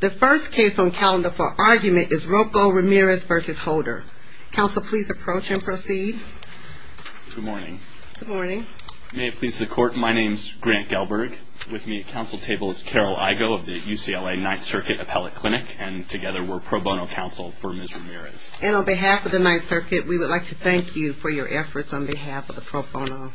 The first case on calendar for argument is Rocco Ramirez v. Holder. Counsel, please approach and proceed. Good morning. Good morning. May it please the court, my name is Grant Gelberg. With me at counsel table is Carol Igoe of the UCLA Ninth Circuit Appellate Clinic and together we're pro bono counsel for Ms. Ramirez. And on behalf of the Ninth Circuit, we would like to thank you for your efforts on behalf of the pro bono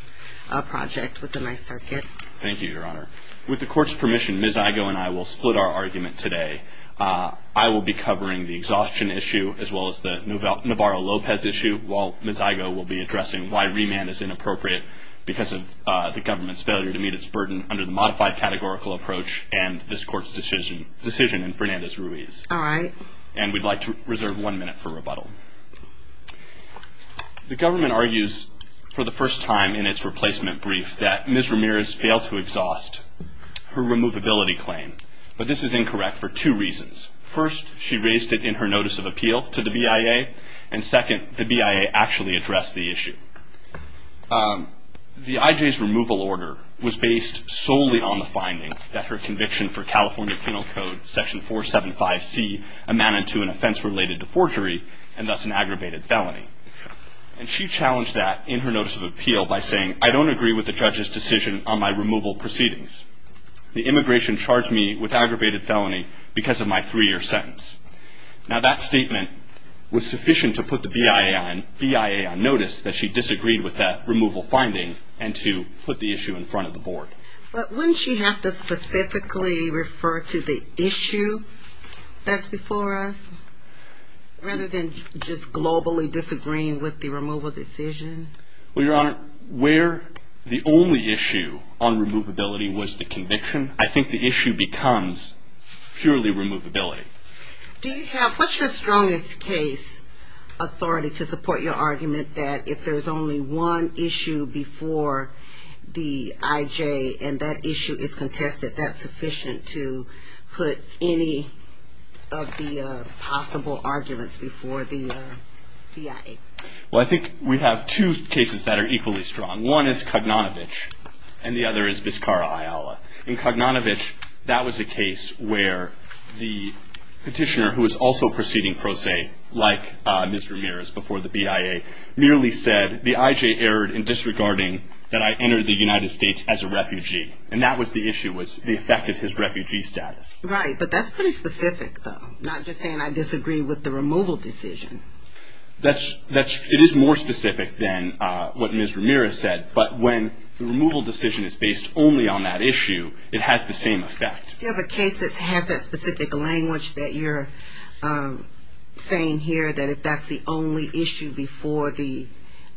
project with the Ninth Circuit. Thank you, Your Honor. With the court's permission, Ms. Igoe and I will split our argument today. I will be covering the exhaustion issue as well as the Navarro-Lopez issue, while Ms. Igoe will be addressing why remand is inappropriate because of the government's failure to meet its burden under the modified categorical approach and this court's decision in Fernandez-Ruiz. All right. And we'd like to reserve one minute for rebuttal. The government argues for the first time in its replacement brief that Ms. Ramirez failed to exhaust her removability claim. But this is incorrect for two reasons. First, she raised it in her notice of appeal to the BIA, and second, the BIA actually addressed the issue. The IJ's removal order was based solely on the finding that her conviction for California Penal Code Section 475C amounted to an offense related to forgery and thus an aggravated felony. And she challenged that in her notice of appeal by saying, I don't agree with the judge's decision on my removal proceedings. The immigration charged me with aggravated felony because of my three-year sentence. Now, that statement was sufficient to put the BIA on notice that she disagreed with that removal finding and to put the issue in front of the board. But wouldn't she have to specifically refer to the issue that's before us rather than just globally disagreeing with the removal decision? Well, Your Honor, where the only issue on removability was the conviction, I think the issue becomes purely removability. Do you have, what's your strongest case authority to support your argument that if there's only one issue before the IJ and that issue is contested, that that's sufficient to put any of the possible arguments before the BIA? Well, I think we have two cases that are equally strong. One is Kognanovich and the other is Vizcarra Ayala. In Kognanovich, that was a case where the petitioner, who was also proceeding pro se, like Ms. Ramirez before the BIA, merely said, the IJ erred in disregarding that I enter the United States as a refugee. And that was the issue, was the effect of his refugee status. Right, but that's pretty specific, though, not just saying I disagree with the removal decision. It is more specific than what Ms. Ramirez said, but when the removal decision is based only on that issue, it has the same effect. Do you have a case that has that specific language that you're saying here that if that's the only issue before the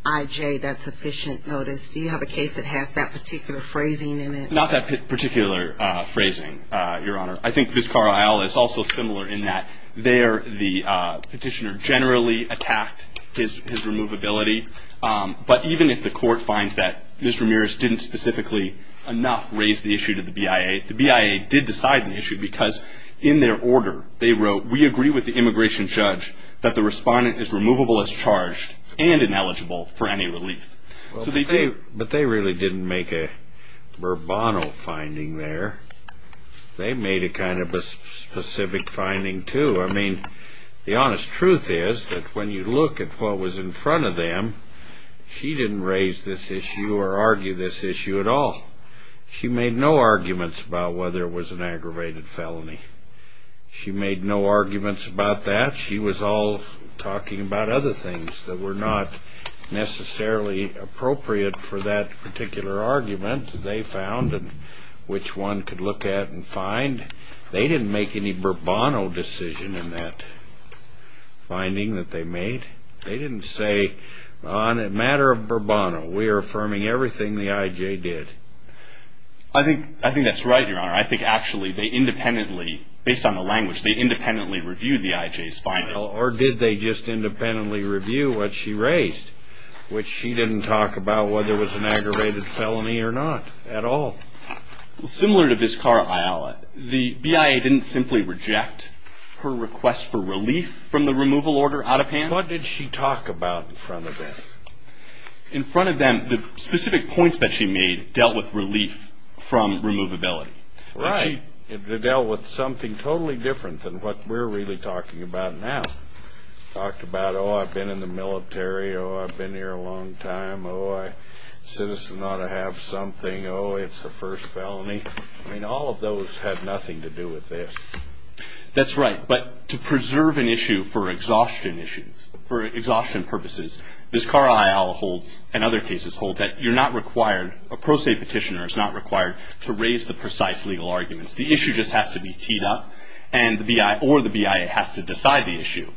IJ, that's sufficient notice? Do you have a case that has that particular phrasing in it? Not that particular phrasing, Your Honor. I think Vizcarra Ayala is also similar in that there the petitioner generally attacked his removability, but even if the court finds that Ms. Ramirez didn't specifically enough raise the issue to the BIA, the BIA did decide the issue because in their order they wrote, we agree with the immigration judge that the respondent is removable as charged and ineligible for any relief. But they really didn't make a verbatim finding there. They made a kind of a specific finding, too. I mean, the honest truth is that when you look at what was in front of them, she didn't raise this issue or argue this issue at all. She made no arguments about whether it was an aggravated felony. She made no arguments about that. She was all talking about other things that were not necessarily appropriate for that particular argument they found and which one could look at and find. They didn't make any Bourbon decision in that finding that they made. They didn't say, on a matter of Bourbon, we're affirming everything the IJ did. I think that's right, Your Honor. I think actually they independently, based on the language, they independently reviewed the IJ's finding. Or did they just independently review what she raised, which she didn't talk about whether it was an aggravated felony or not at all. Similar to Biskara Ayala, the BIA didn't simply reject her request for relief from the removal order out of hand. What did she talk about in front of them? In front of them, the specific points that she made dealt with relief from removability. Right. And she dealt with something totally different than what we're really talking about now. She talked about, oh, I've been in the military. Oh, I've been here a long time. Oh, a citizen ought to have something. Oh, it's the first felony. I mean, all of those had nothing to do with this. That's right. But to preserve an issue for exhaustion issues, for exhaustion purposes, Biskara Ayala holds and other cases hold that you're not required, a pro se petitioner is not required to raise the precise legal arguments. The issue just has to be teed up or the BIA has to decide the issue.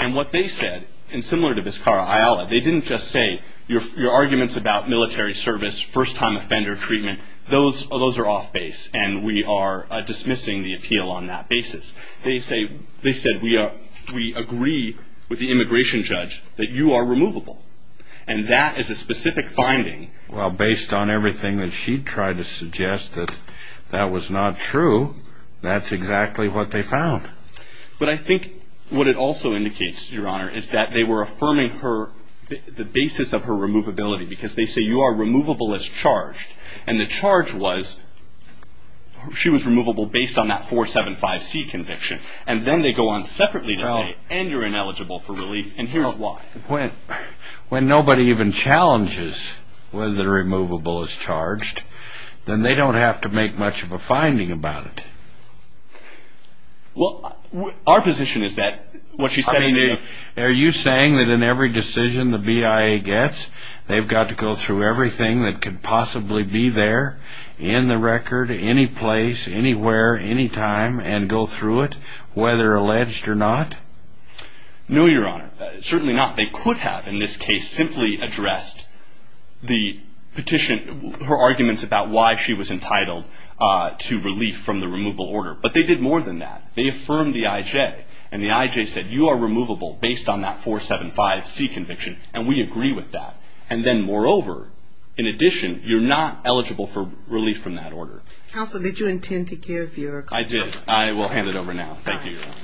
And what they said, and similar to Biskara Ayala, they didn't just say your arguments about military service, first-time offender treatment, those are off base and we are dismissing the appeal on that basis. They said we agree with the immigration judge that you are removable. And that is a specific finding. Well, based on everything that she tried to suggest that that was not true, that's exactly what they found. But I think what it also indicates, Your Honor, is that they were affirming the basis of her removability because they say you are removable as charged. And the charge was she was removable based on that 475C conviction. And then they go on separately to say, and you're ineligible for relief, and here's why. When nobody even challenges whether the removable is charged, then they don't have to make much of a finding about it. Well, our position is that what she said in the interview, are you saying that in every decision the BIA gets, they've got to go through everything that could possibly be there in the record, any place, anywhere, anytime, and go through it, whether alleged or not? No, Your Honor. Certainly not. They could have in this case simply addressed the petition, her arguments about why she was entitled to relief from the removal order. But they did more than that. They affirmed the IJ. And the IJ said you are removable based on that 475C conviction, and we agree with that. And then, moreover, in addition, you're not eligible for relief from that order. Counsel, did you intend to give your comment? I did. I will hand it over now. Thank you, Your Honor.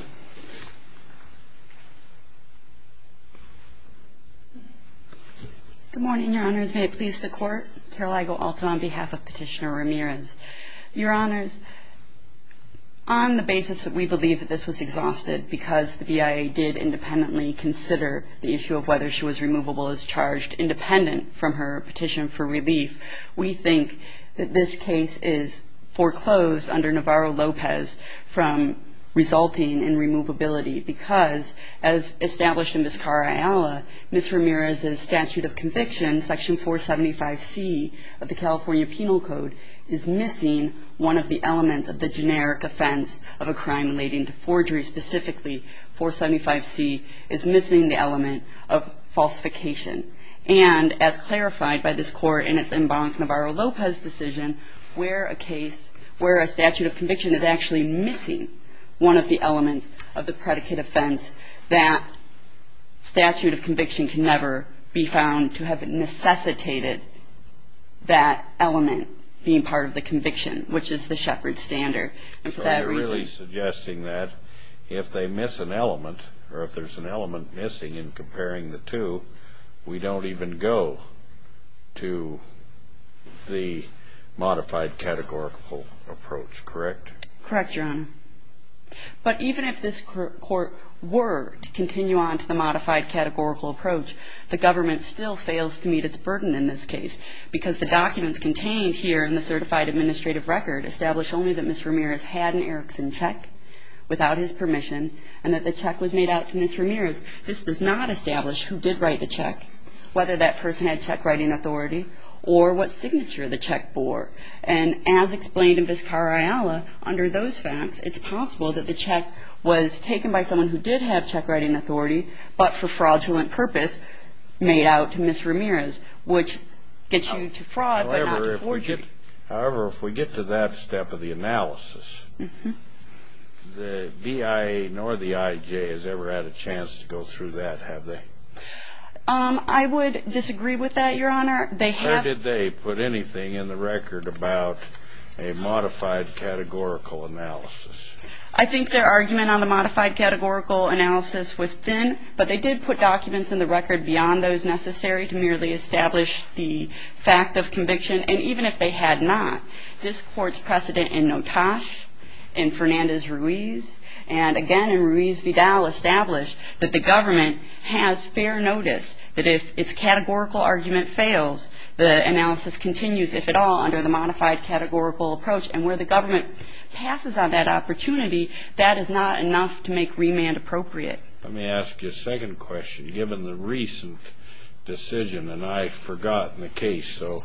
Good morning, Your Honors. May it please the Court. Carol Igo-Alton on behalf of Petitioner Ramirez. Your Honors, on the basis that we believe that this was exhausted because the BIA did independently consider the issue of whether she was removable as charged independent from her petition for relief, we think that this case is foreclosed under Navarro-Lopez from resulting in removability because, as established in Ms. Carayala, Ms. Ramirez's statute of conviction, Section 475C of the California Penal Code, is missing one of the elements of the generic offense of a crime relating to forgery specifically 475C, is missing the element of falsification. And as clarified by this Court in its Embank Navarro-Lopez decision, where a case where a statute of conviction is actually missing one of the elements of the predicate offense, that statute of conviction can never be found to have necessitated that element being part of the conviction, which is the shepherd's standard. So you're really suggesting that if they miss an element, or if there's an element missing in comparing the two, we don't even go to the modified categorical approach, correct? Correct, Your Honor. But even if this Court were to continue on to the modified categorical approach, the government still fails to meet its burden in this case because the documents contained here in the certified administrative record establish only that Ms. Ramirez had an Erickson check without his permission and that the check was made out to Ms. Ramirez. This does not establish who did write the check, whether that person had check-writing authority, or what signature the check bore. And as explained in Vizcarrala, under those facts, it's possible that the check was taken by someone who did have check-writing authority but for fraudulent purpose made out to Ms. Ramirez, which gets you to fraud but not to forgery. However, if we get to that step of the analysis, the BIA nor the IJ has ever had a chance to go through that, have they? I would disagree with that, Your Honor. Did they put anything in the record about a modified categorical analysis? I think their argument on the modified categorical analysis was thin, but they did put documents in the record beyond those necessary to merely establish the fact of conviction. And even if they had not, this Court's precedent in Notas, in Fernandez-Ruiz, and again in Ruiz-Vidal established that the government has fair notice, that if its categorical argument fails, the analysis continues, if at all, under the modified categorical approach. And where the government passes on that opportunity, that is not enough to make remand appropriate. Let me ask you a second question. Given the recent decision, and I've forgotten the case, so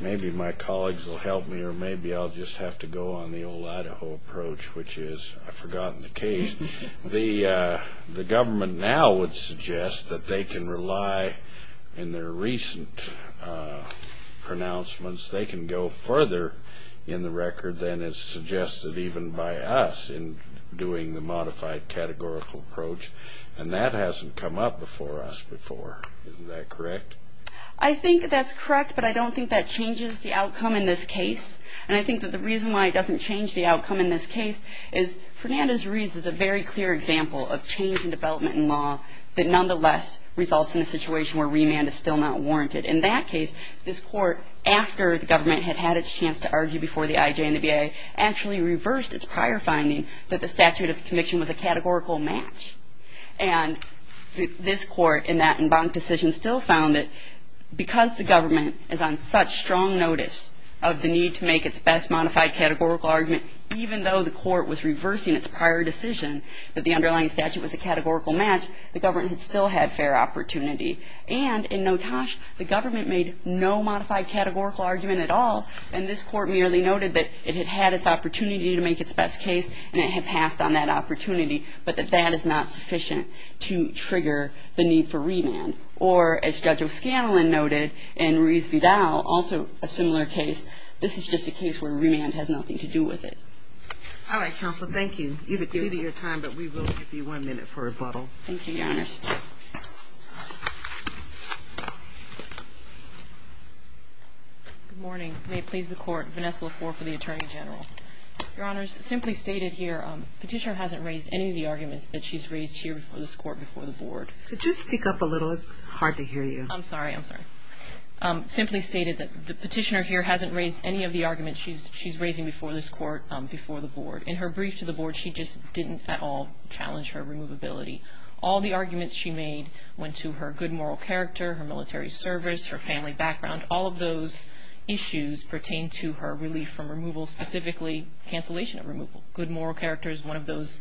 maybe my colleagues will help me or maybe I'll just have to go on the old Idaho approach, which is I've forgotten the case. The government now would suggest that they can rely in their recent pronouncements, they can go further in the record than is suggested even by us in doing the modified categorical approach. And that hasn't come up before us before. Isn't that correct? I think that's correct, but I don't think that changes the outcome in this case. And I think that the reason why it doesn't change the outcome in this case is Fernandez-Ruiz is a very clear example of change in development in law that nonetheless results in a situation where remand is still not warranted. In that case, this Court, after the government had had its chance to argue before the IJ and the VA, actually reversed its prior finding that the statute of conviction was a categorical match. And this Court in that embanked decision still found that because the government is on such strong notice of the need to make its best modified categorical argument, even though the Court was reversing its prior decision that the underlying statute was a categorical match, the government still had fair opportunity. And in Notosh, the government made no modified categorical argument at all, and this Court merely noted that it had had its opportunity to make its best case and it had passed on that opportunity, but that that is not sufficient to trigger the need for remand. Or, as Judge O'Scanlan noted, and Ruiz-Vidal, also a similar case, this is just a case where remand has nothing to do with it. All right, Counsel, thank you. You've exceeded your time, but we will give you one minute for rebuttal. Thank you, Your Honors. Good morning. May it please the Court. Vanessa Lafour for the Attorney General. Your Honors, simply stated here, Petitioner hasn't raised any of the arguments that she's raised here before this Court, before the Board. Could you speak up a little? It's hard to hear you. I'm sorry. I'm sorry. Simply stated that the Petitioner here hasn't raised any of the arguments she's raising before this Court, before the Board. In her brief to the Board, she just didn't at all challenge her removability. All the arguments she made went to her good moral character, her military service, her family background. All of those issues pertain to her relief from removal, specifically cancellation of removal. Good moral character is one of those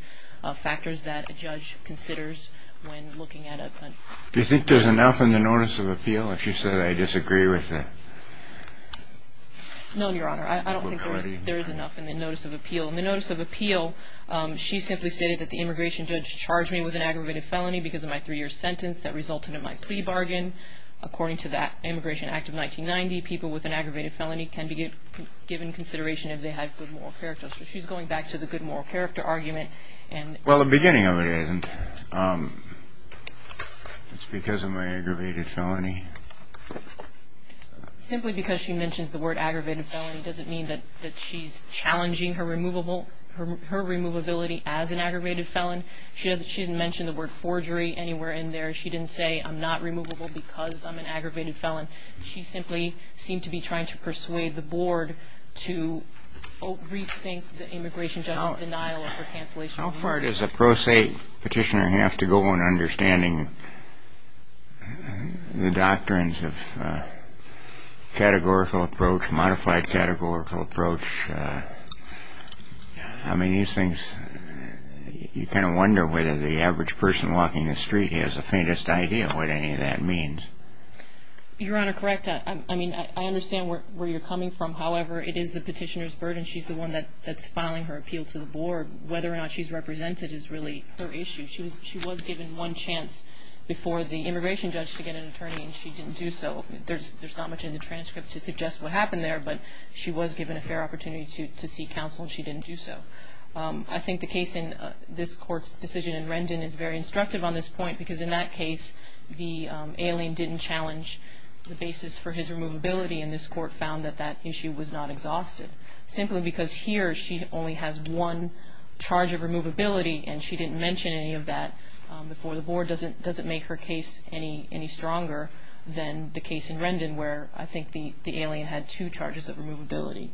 factors that a judge considers when looking at a country. Do you think there's enough in the Notice of Appeal? She said, I disagree with it. No, Your Honor. I don't think there is enough in the Notice of Appeal. In the Notice of Appeal, she simply stated that the immigration judge charged me with an aggravated felony because of my three-year sentence that resulted in my plea bargain. According to the Immigration Act of 1990, people with an aggravated felony can be given consideration if they have good moral character. So she's going back to the good moral character argument. Well, the beginning of it isn't. It's because of my aggravated felony. Simply because she mentions the word aggravated felony doesn't mean that she's challenging her removability as an aggravated felon. She didn't mention the word forgery anywhere in there. She didn't say, I'm not removable because I'm an aggravated felon. She simply seemed to be trying to persuade the board to rethink the immigration judge's denial of her cancellation of removal. How far does a pro se petitioner have to go in understanding the doctrines of categorical approach, modified categorical approach? I mean, these things, you kind of wonder whether the average person walking the street has the faintest idea what any of that means. Your Honor, correct. I mean, I understand where you're coming from. However, it is the petitioner's burden. She's the one that's filing her appeal to the board. Whether or not she's represented is really her issue. She was given one chance before the immigration judge to get an attorney, and she didn't do so. There's not much in the transcript to suggest what happened there, but she was given a fair opportunity to seek counsel, and she didn't do so. I think the case in this court's decision in Rendon is very instructive on this point because in that case, the alien didn't challenge the basis for his removability, and this court found that that issue was not exhausted. Simply because here she only has one charge of removability, and she didn't mention any of that before the board, doesn't make her case any stronger than the case in Rendon where I think the alien had two charges of removability.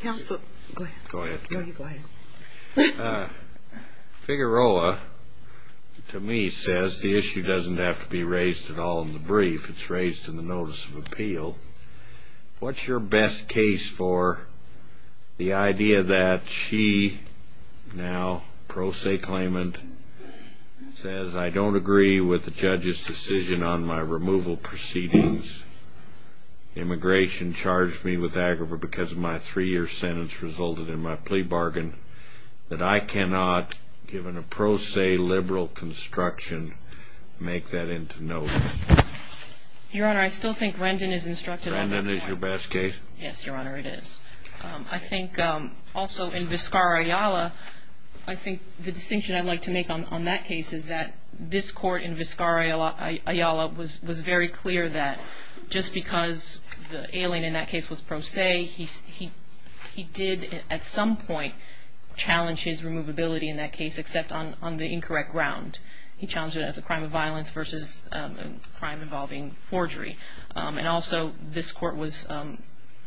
Counsel, go ahead. Go ahead. No, you go ahead. Figueroa, to me, says the issue doesn't have to be raised at all in the brief. It's raised in the notice of appeal. What's your best case for the idea that she now, pro se claimant, says, I don't agree with the judge's decision on my removal proceedings. Immigration charged me with aggravation because my three-year sentence resulted in my plea bargain, that I cannot, given a pro se liberal construction, make that into notice? Your Honor, I still think Rendon is instructed on that point. Rendon is your best case? Yes, Your Honor, it is. I think also in Vizcarra-Ayala, I think the distinction I'd like to make on that case is that this court in Vizcarra-Ayala was very clear that just because the alien in that case was pro se, he did at some point challenge his removability in that case, except on the incorrect ground. He challenged it as a crime of violence versus a crime involving forgery. And also, this court was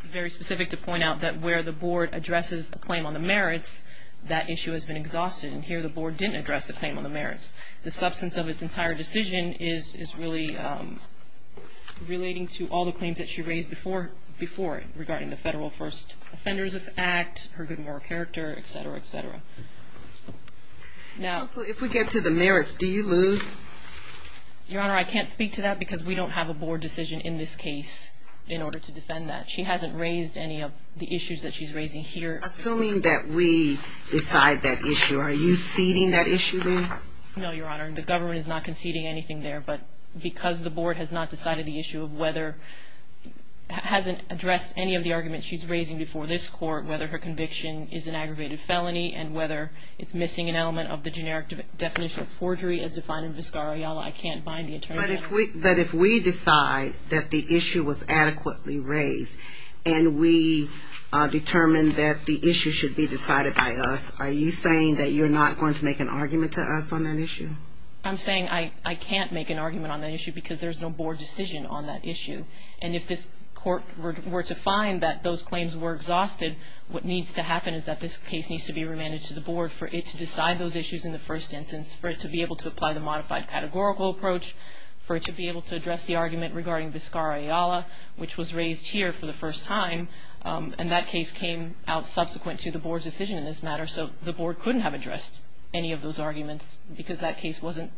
very specific to point out that where the board addresses the claim on the merits, that issue has been exhausted, and here the board didn't address the claim on the merits. The substance of this entire decision is really relating to all the claims that she raised before it, regarding the Federal First Offenders Act, her good moral character, et cetera, et cetera. Counsel, if we get to the merits, do you lose? Your Honor, I can't speak to that because we don't have a board decision in this case in order to defend that. She hasn't raised any of the issues that she's raising here. Assuming that we decide that issue, are you ceding that issue then? No, Your Honor, the government is not conceding anything there, but because the board has not decided the issue of whether, hasn't addressed any of the arguments she's raising before this court, whether her conviction is an aggravated felony, and whether it's missing an element of the generic definition of forgery as defined in Vizcarra-Ayala, I can't bind the attorney. But if we decide that the issue was adequately raised, and we determine that the issue should be decided by us, are you saying that you're not going to make an argument to us on that issue? I'm saying I can't make an argument on that issue because there's no board decision on that issue. And if this court were to find that those claims were exhausted, what needs to happen is that this case needs to be remanded to the board for it to decide those issues in the first instance, for it to be able to apply the modified categorical approach, for it to be able to address the argument regarding Vizcarra-Ayala, which was raised here for the first time. And that case came out subsequent to the board's decision in this matter, so the board couldn't have addressed any of those arguments because that case wasn't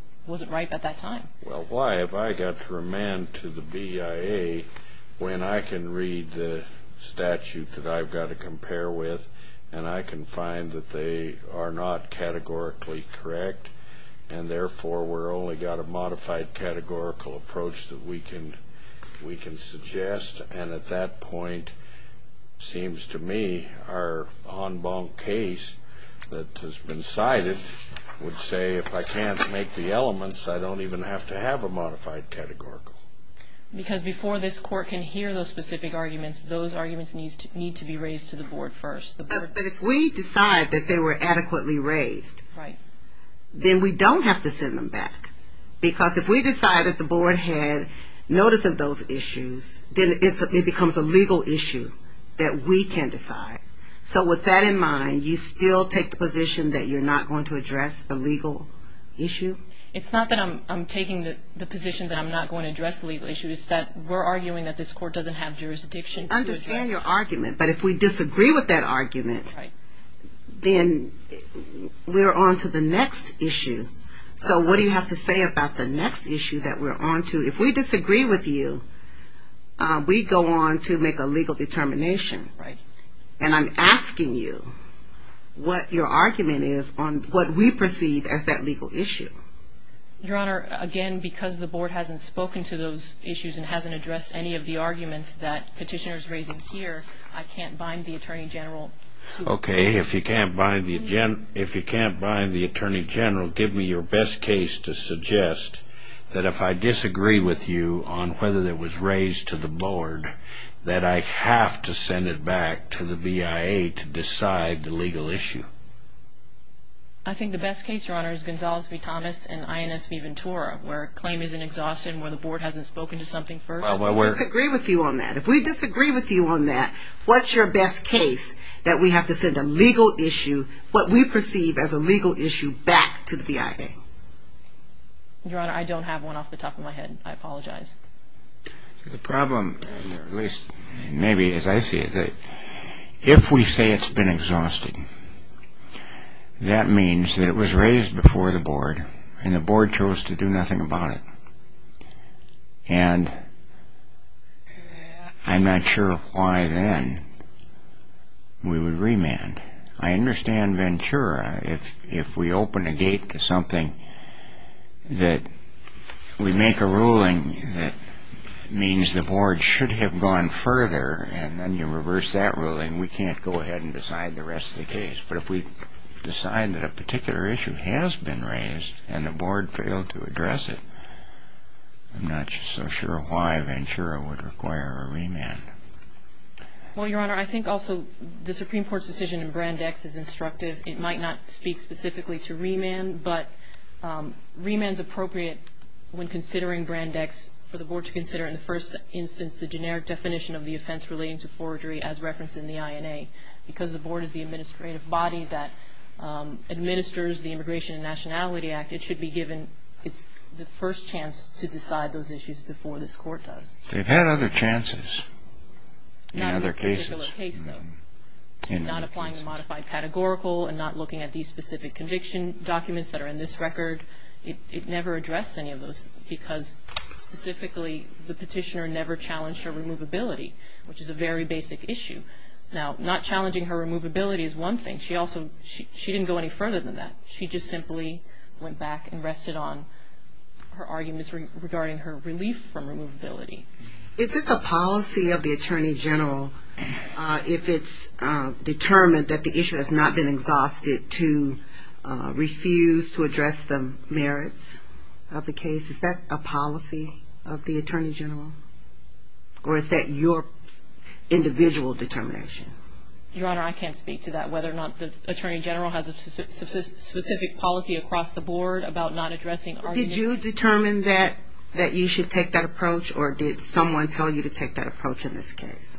right at that time. Well, why have I got to remand to the BIA when I can read the statute that I've got to compare with and I can find that they are not categorically correct, and therefore we've only got a modified categorical approach that we can suggest? And at that point, it seems to me our en banc case that has been cited would say, if I can't make the elements, I don't even have to have a modified categorical. Because before this court can hear those specific arguments, those arguments need to be raised to the board first. But if we decide that they were adequately raised, then we don't have to send them back. Because if we decide that the board had notice of those issues, then it becomes a legal issue that we can decide. So with that in mind, you still take the position that you're not going to address the legal issue? It's not that I'm taking the position that I'm not going to address the legal issue. It's that we're arguing that this court doesn't have jurisdiction. I understand your argument, but if we disagree with that argument, then we're on to the next issue. So what do you have to say about the next issue that we're on to? If we disagree with you, we go on to make a legal determination. And I'm asking you what your argument is on what we perceive as that legal issue. Your Honor, again, because the board hasn't spoken to those issues and hasn't addressed any of the arguments that Petitioner's raising here, I can't bind the Attorney General. Okay, if you can't bind the Attorney General, give me your best case to suggest that if I disagree with you on whether that was raised to the board, that I have to send it back to the BIA to decide the legal issue. I think the best case, Your Honor, is Gonzales v. Thomas and INS v. Ventura, where a claim is an exhaustion, where the board hasn't spoken to something first. Well, we disagree with you on that. If we disagree with you on that, what's your best case that we have to send a legal issue, what we perceive as a legal issue, back to the BIA? Your Honor, I don't have one off the top of my head. I apologize. The problem, at least maybe as I see it, if we say it's been exhausted, that means that it was raised before the board and the board chose to do nothing about it. And I'm not sure why then we would remand. I understand Ventura. If we open a gate to something that we make a ruling that means the board should have gone further and then you reverse that ruling, we can't go ahead and decide the rest of the case. But if we decide that a particular issue has been raised and the board failed to address it, I'm not so sure why Ventura would require a remand. Well, Your Honor, I think also the Supreme Court's decision in Brand X is instructive. It might not speak specifically to remand, but remand is appropriate when considering Brand X for the board to consider in the first instance the generic definition of the offense relating to forgery as referenced in the INA. Because the board is the administrative body that administers the Immigration and Nationality Act, it should be given the first chance to decide those issues before this court does. They've had other chances in other cases. Not in this particular case, though. In not applying the modified categorical and not looking at these specific conviction documents that are in this record, it never addressed any of those because specifically the petitioner never challenged her removability, which is a very basic issue. Now, not challenging her removability is one thing. She also didn't go any further than that. She just simply went back and rested on her arguments regarding her relief from removability. Is it the policy of the Attorney General, if it's determined that the issue has not been exhausted, to refuse to address the merits of the case? Is that a policy of the Attorney General? Or is that your individual determination? Your Honor, I can't speak to that, whether or not the Attorney General has a specific policy across the board about not addressing arguments. Did you determine that you should take that approach, or did someone tell you to take that approach in this case?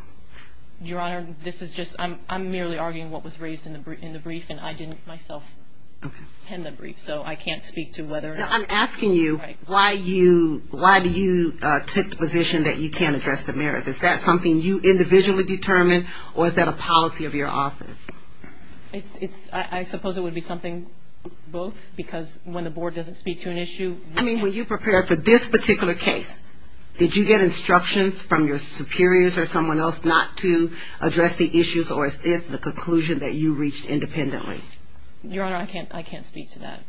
Your Honor, this is just ‑‑ I'm merely arguing what was raised in the brief, and I didn't myself pen the brief, so I can't speak to whether or not. I'm asking you why you took the position that you can't address the merits. Is that something you individually determined, or is that a policy of your office? I suppose it would be something both, because when the board doesn't speak to an issue ‑‑ I mean, when you prepared for this particular case, did you get instructions from your superiors or someone else not to address the issues, or is this the conclusion that you reached independently? Your Honor, I can't speak to that.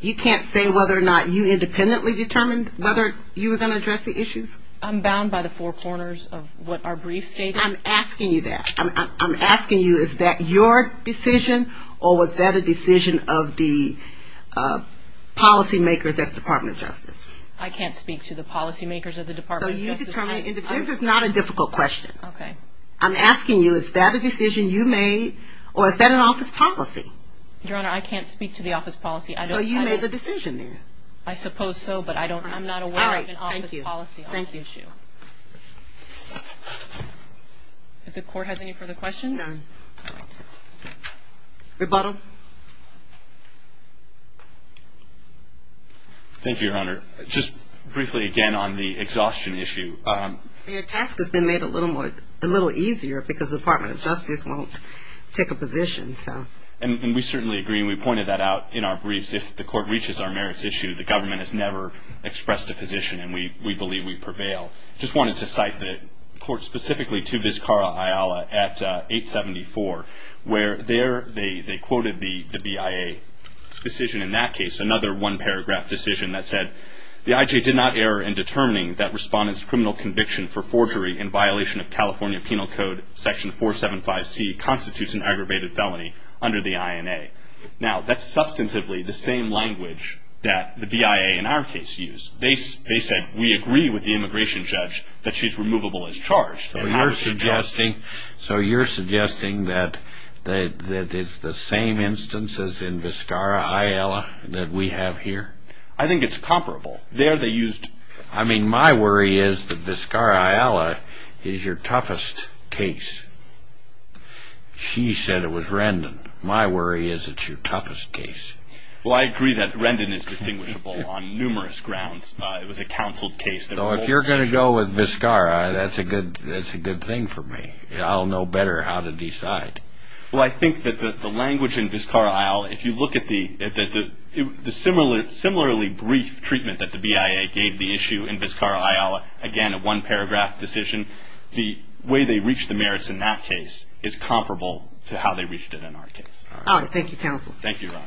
You can't say whether or not you independently determined whether you were going to address the issues? I'm bound by the four corners of what our brief stated. I'm asking you that. I'm asking you, is that your decision, or was that a decision of the policymakers at the Department of Justice? I can't speak to the policymakers at the Department of Justice. So you determined individually. This is not a difficult question. Okay. I'm asking you, is that a decision you made, or is that an office policy? Your Honor, I can't speak to the office policy. So you made the decision then? I suppose so, but I'm not aware of an office policy. Thank you. If the Court has any further questions. None. Rebuttal. Thank you, Your Honor. Just briefly again on the exhaustion issue. Your task has been made a little easier because the Department of Justice won't take a position. And we certainly agree, and we pointed that out in our briefs. If the Court reaches our merits issue, the government has never expressed a position, and we believe we prevail. I just wanted to cite the Court specifically to Vizcarra Ayala at 874, where they quoted the BIA's decision in that case, another one-paragraph decision that said, the IJ did not err in determining that respondent's criminal conviction for forgery in violation of California Penal Code Section 475C constitutes an aggravated felony under the INA. Now, that's substantively the same language that the BIA in our case used. They said, we agree with the immigration judge that she's removable as charged. So you're suggesting that it's the same instance as in Vizcarra Ayala that we have here? I think it's comparable. I mean, my worry is that Vizcarra Ayala is your toughest case. She said it was Rendon. My worry is it's your toughest case. Well, I agree that Rendon is distinguishable on numerous grounds. It was a counseled case. So if you're going to go with Vizcarra, that's a good thing for me. I'll know better how to decide. Well, I think that the language in Vizcarra Ayala, if you look at the similarly brief treatment that the BIA gave the issue in Vizcarra Ayala, again, a one-paragraph decision, the way they reached the merits in that case is comparable to how they reached it in our case. All right. Well, thank you, counsel. Thank you, Ron.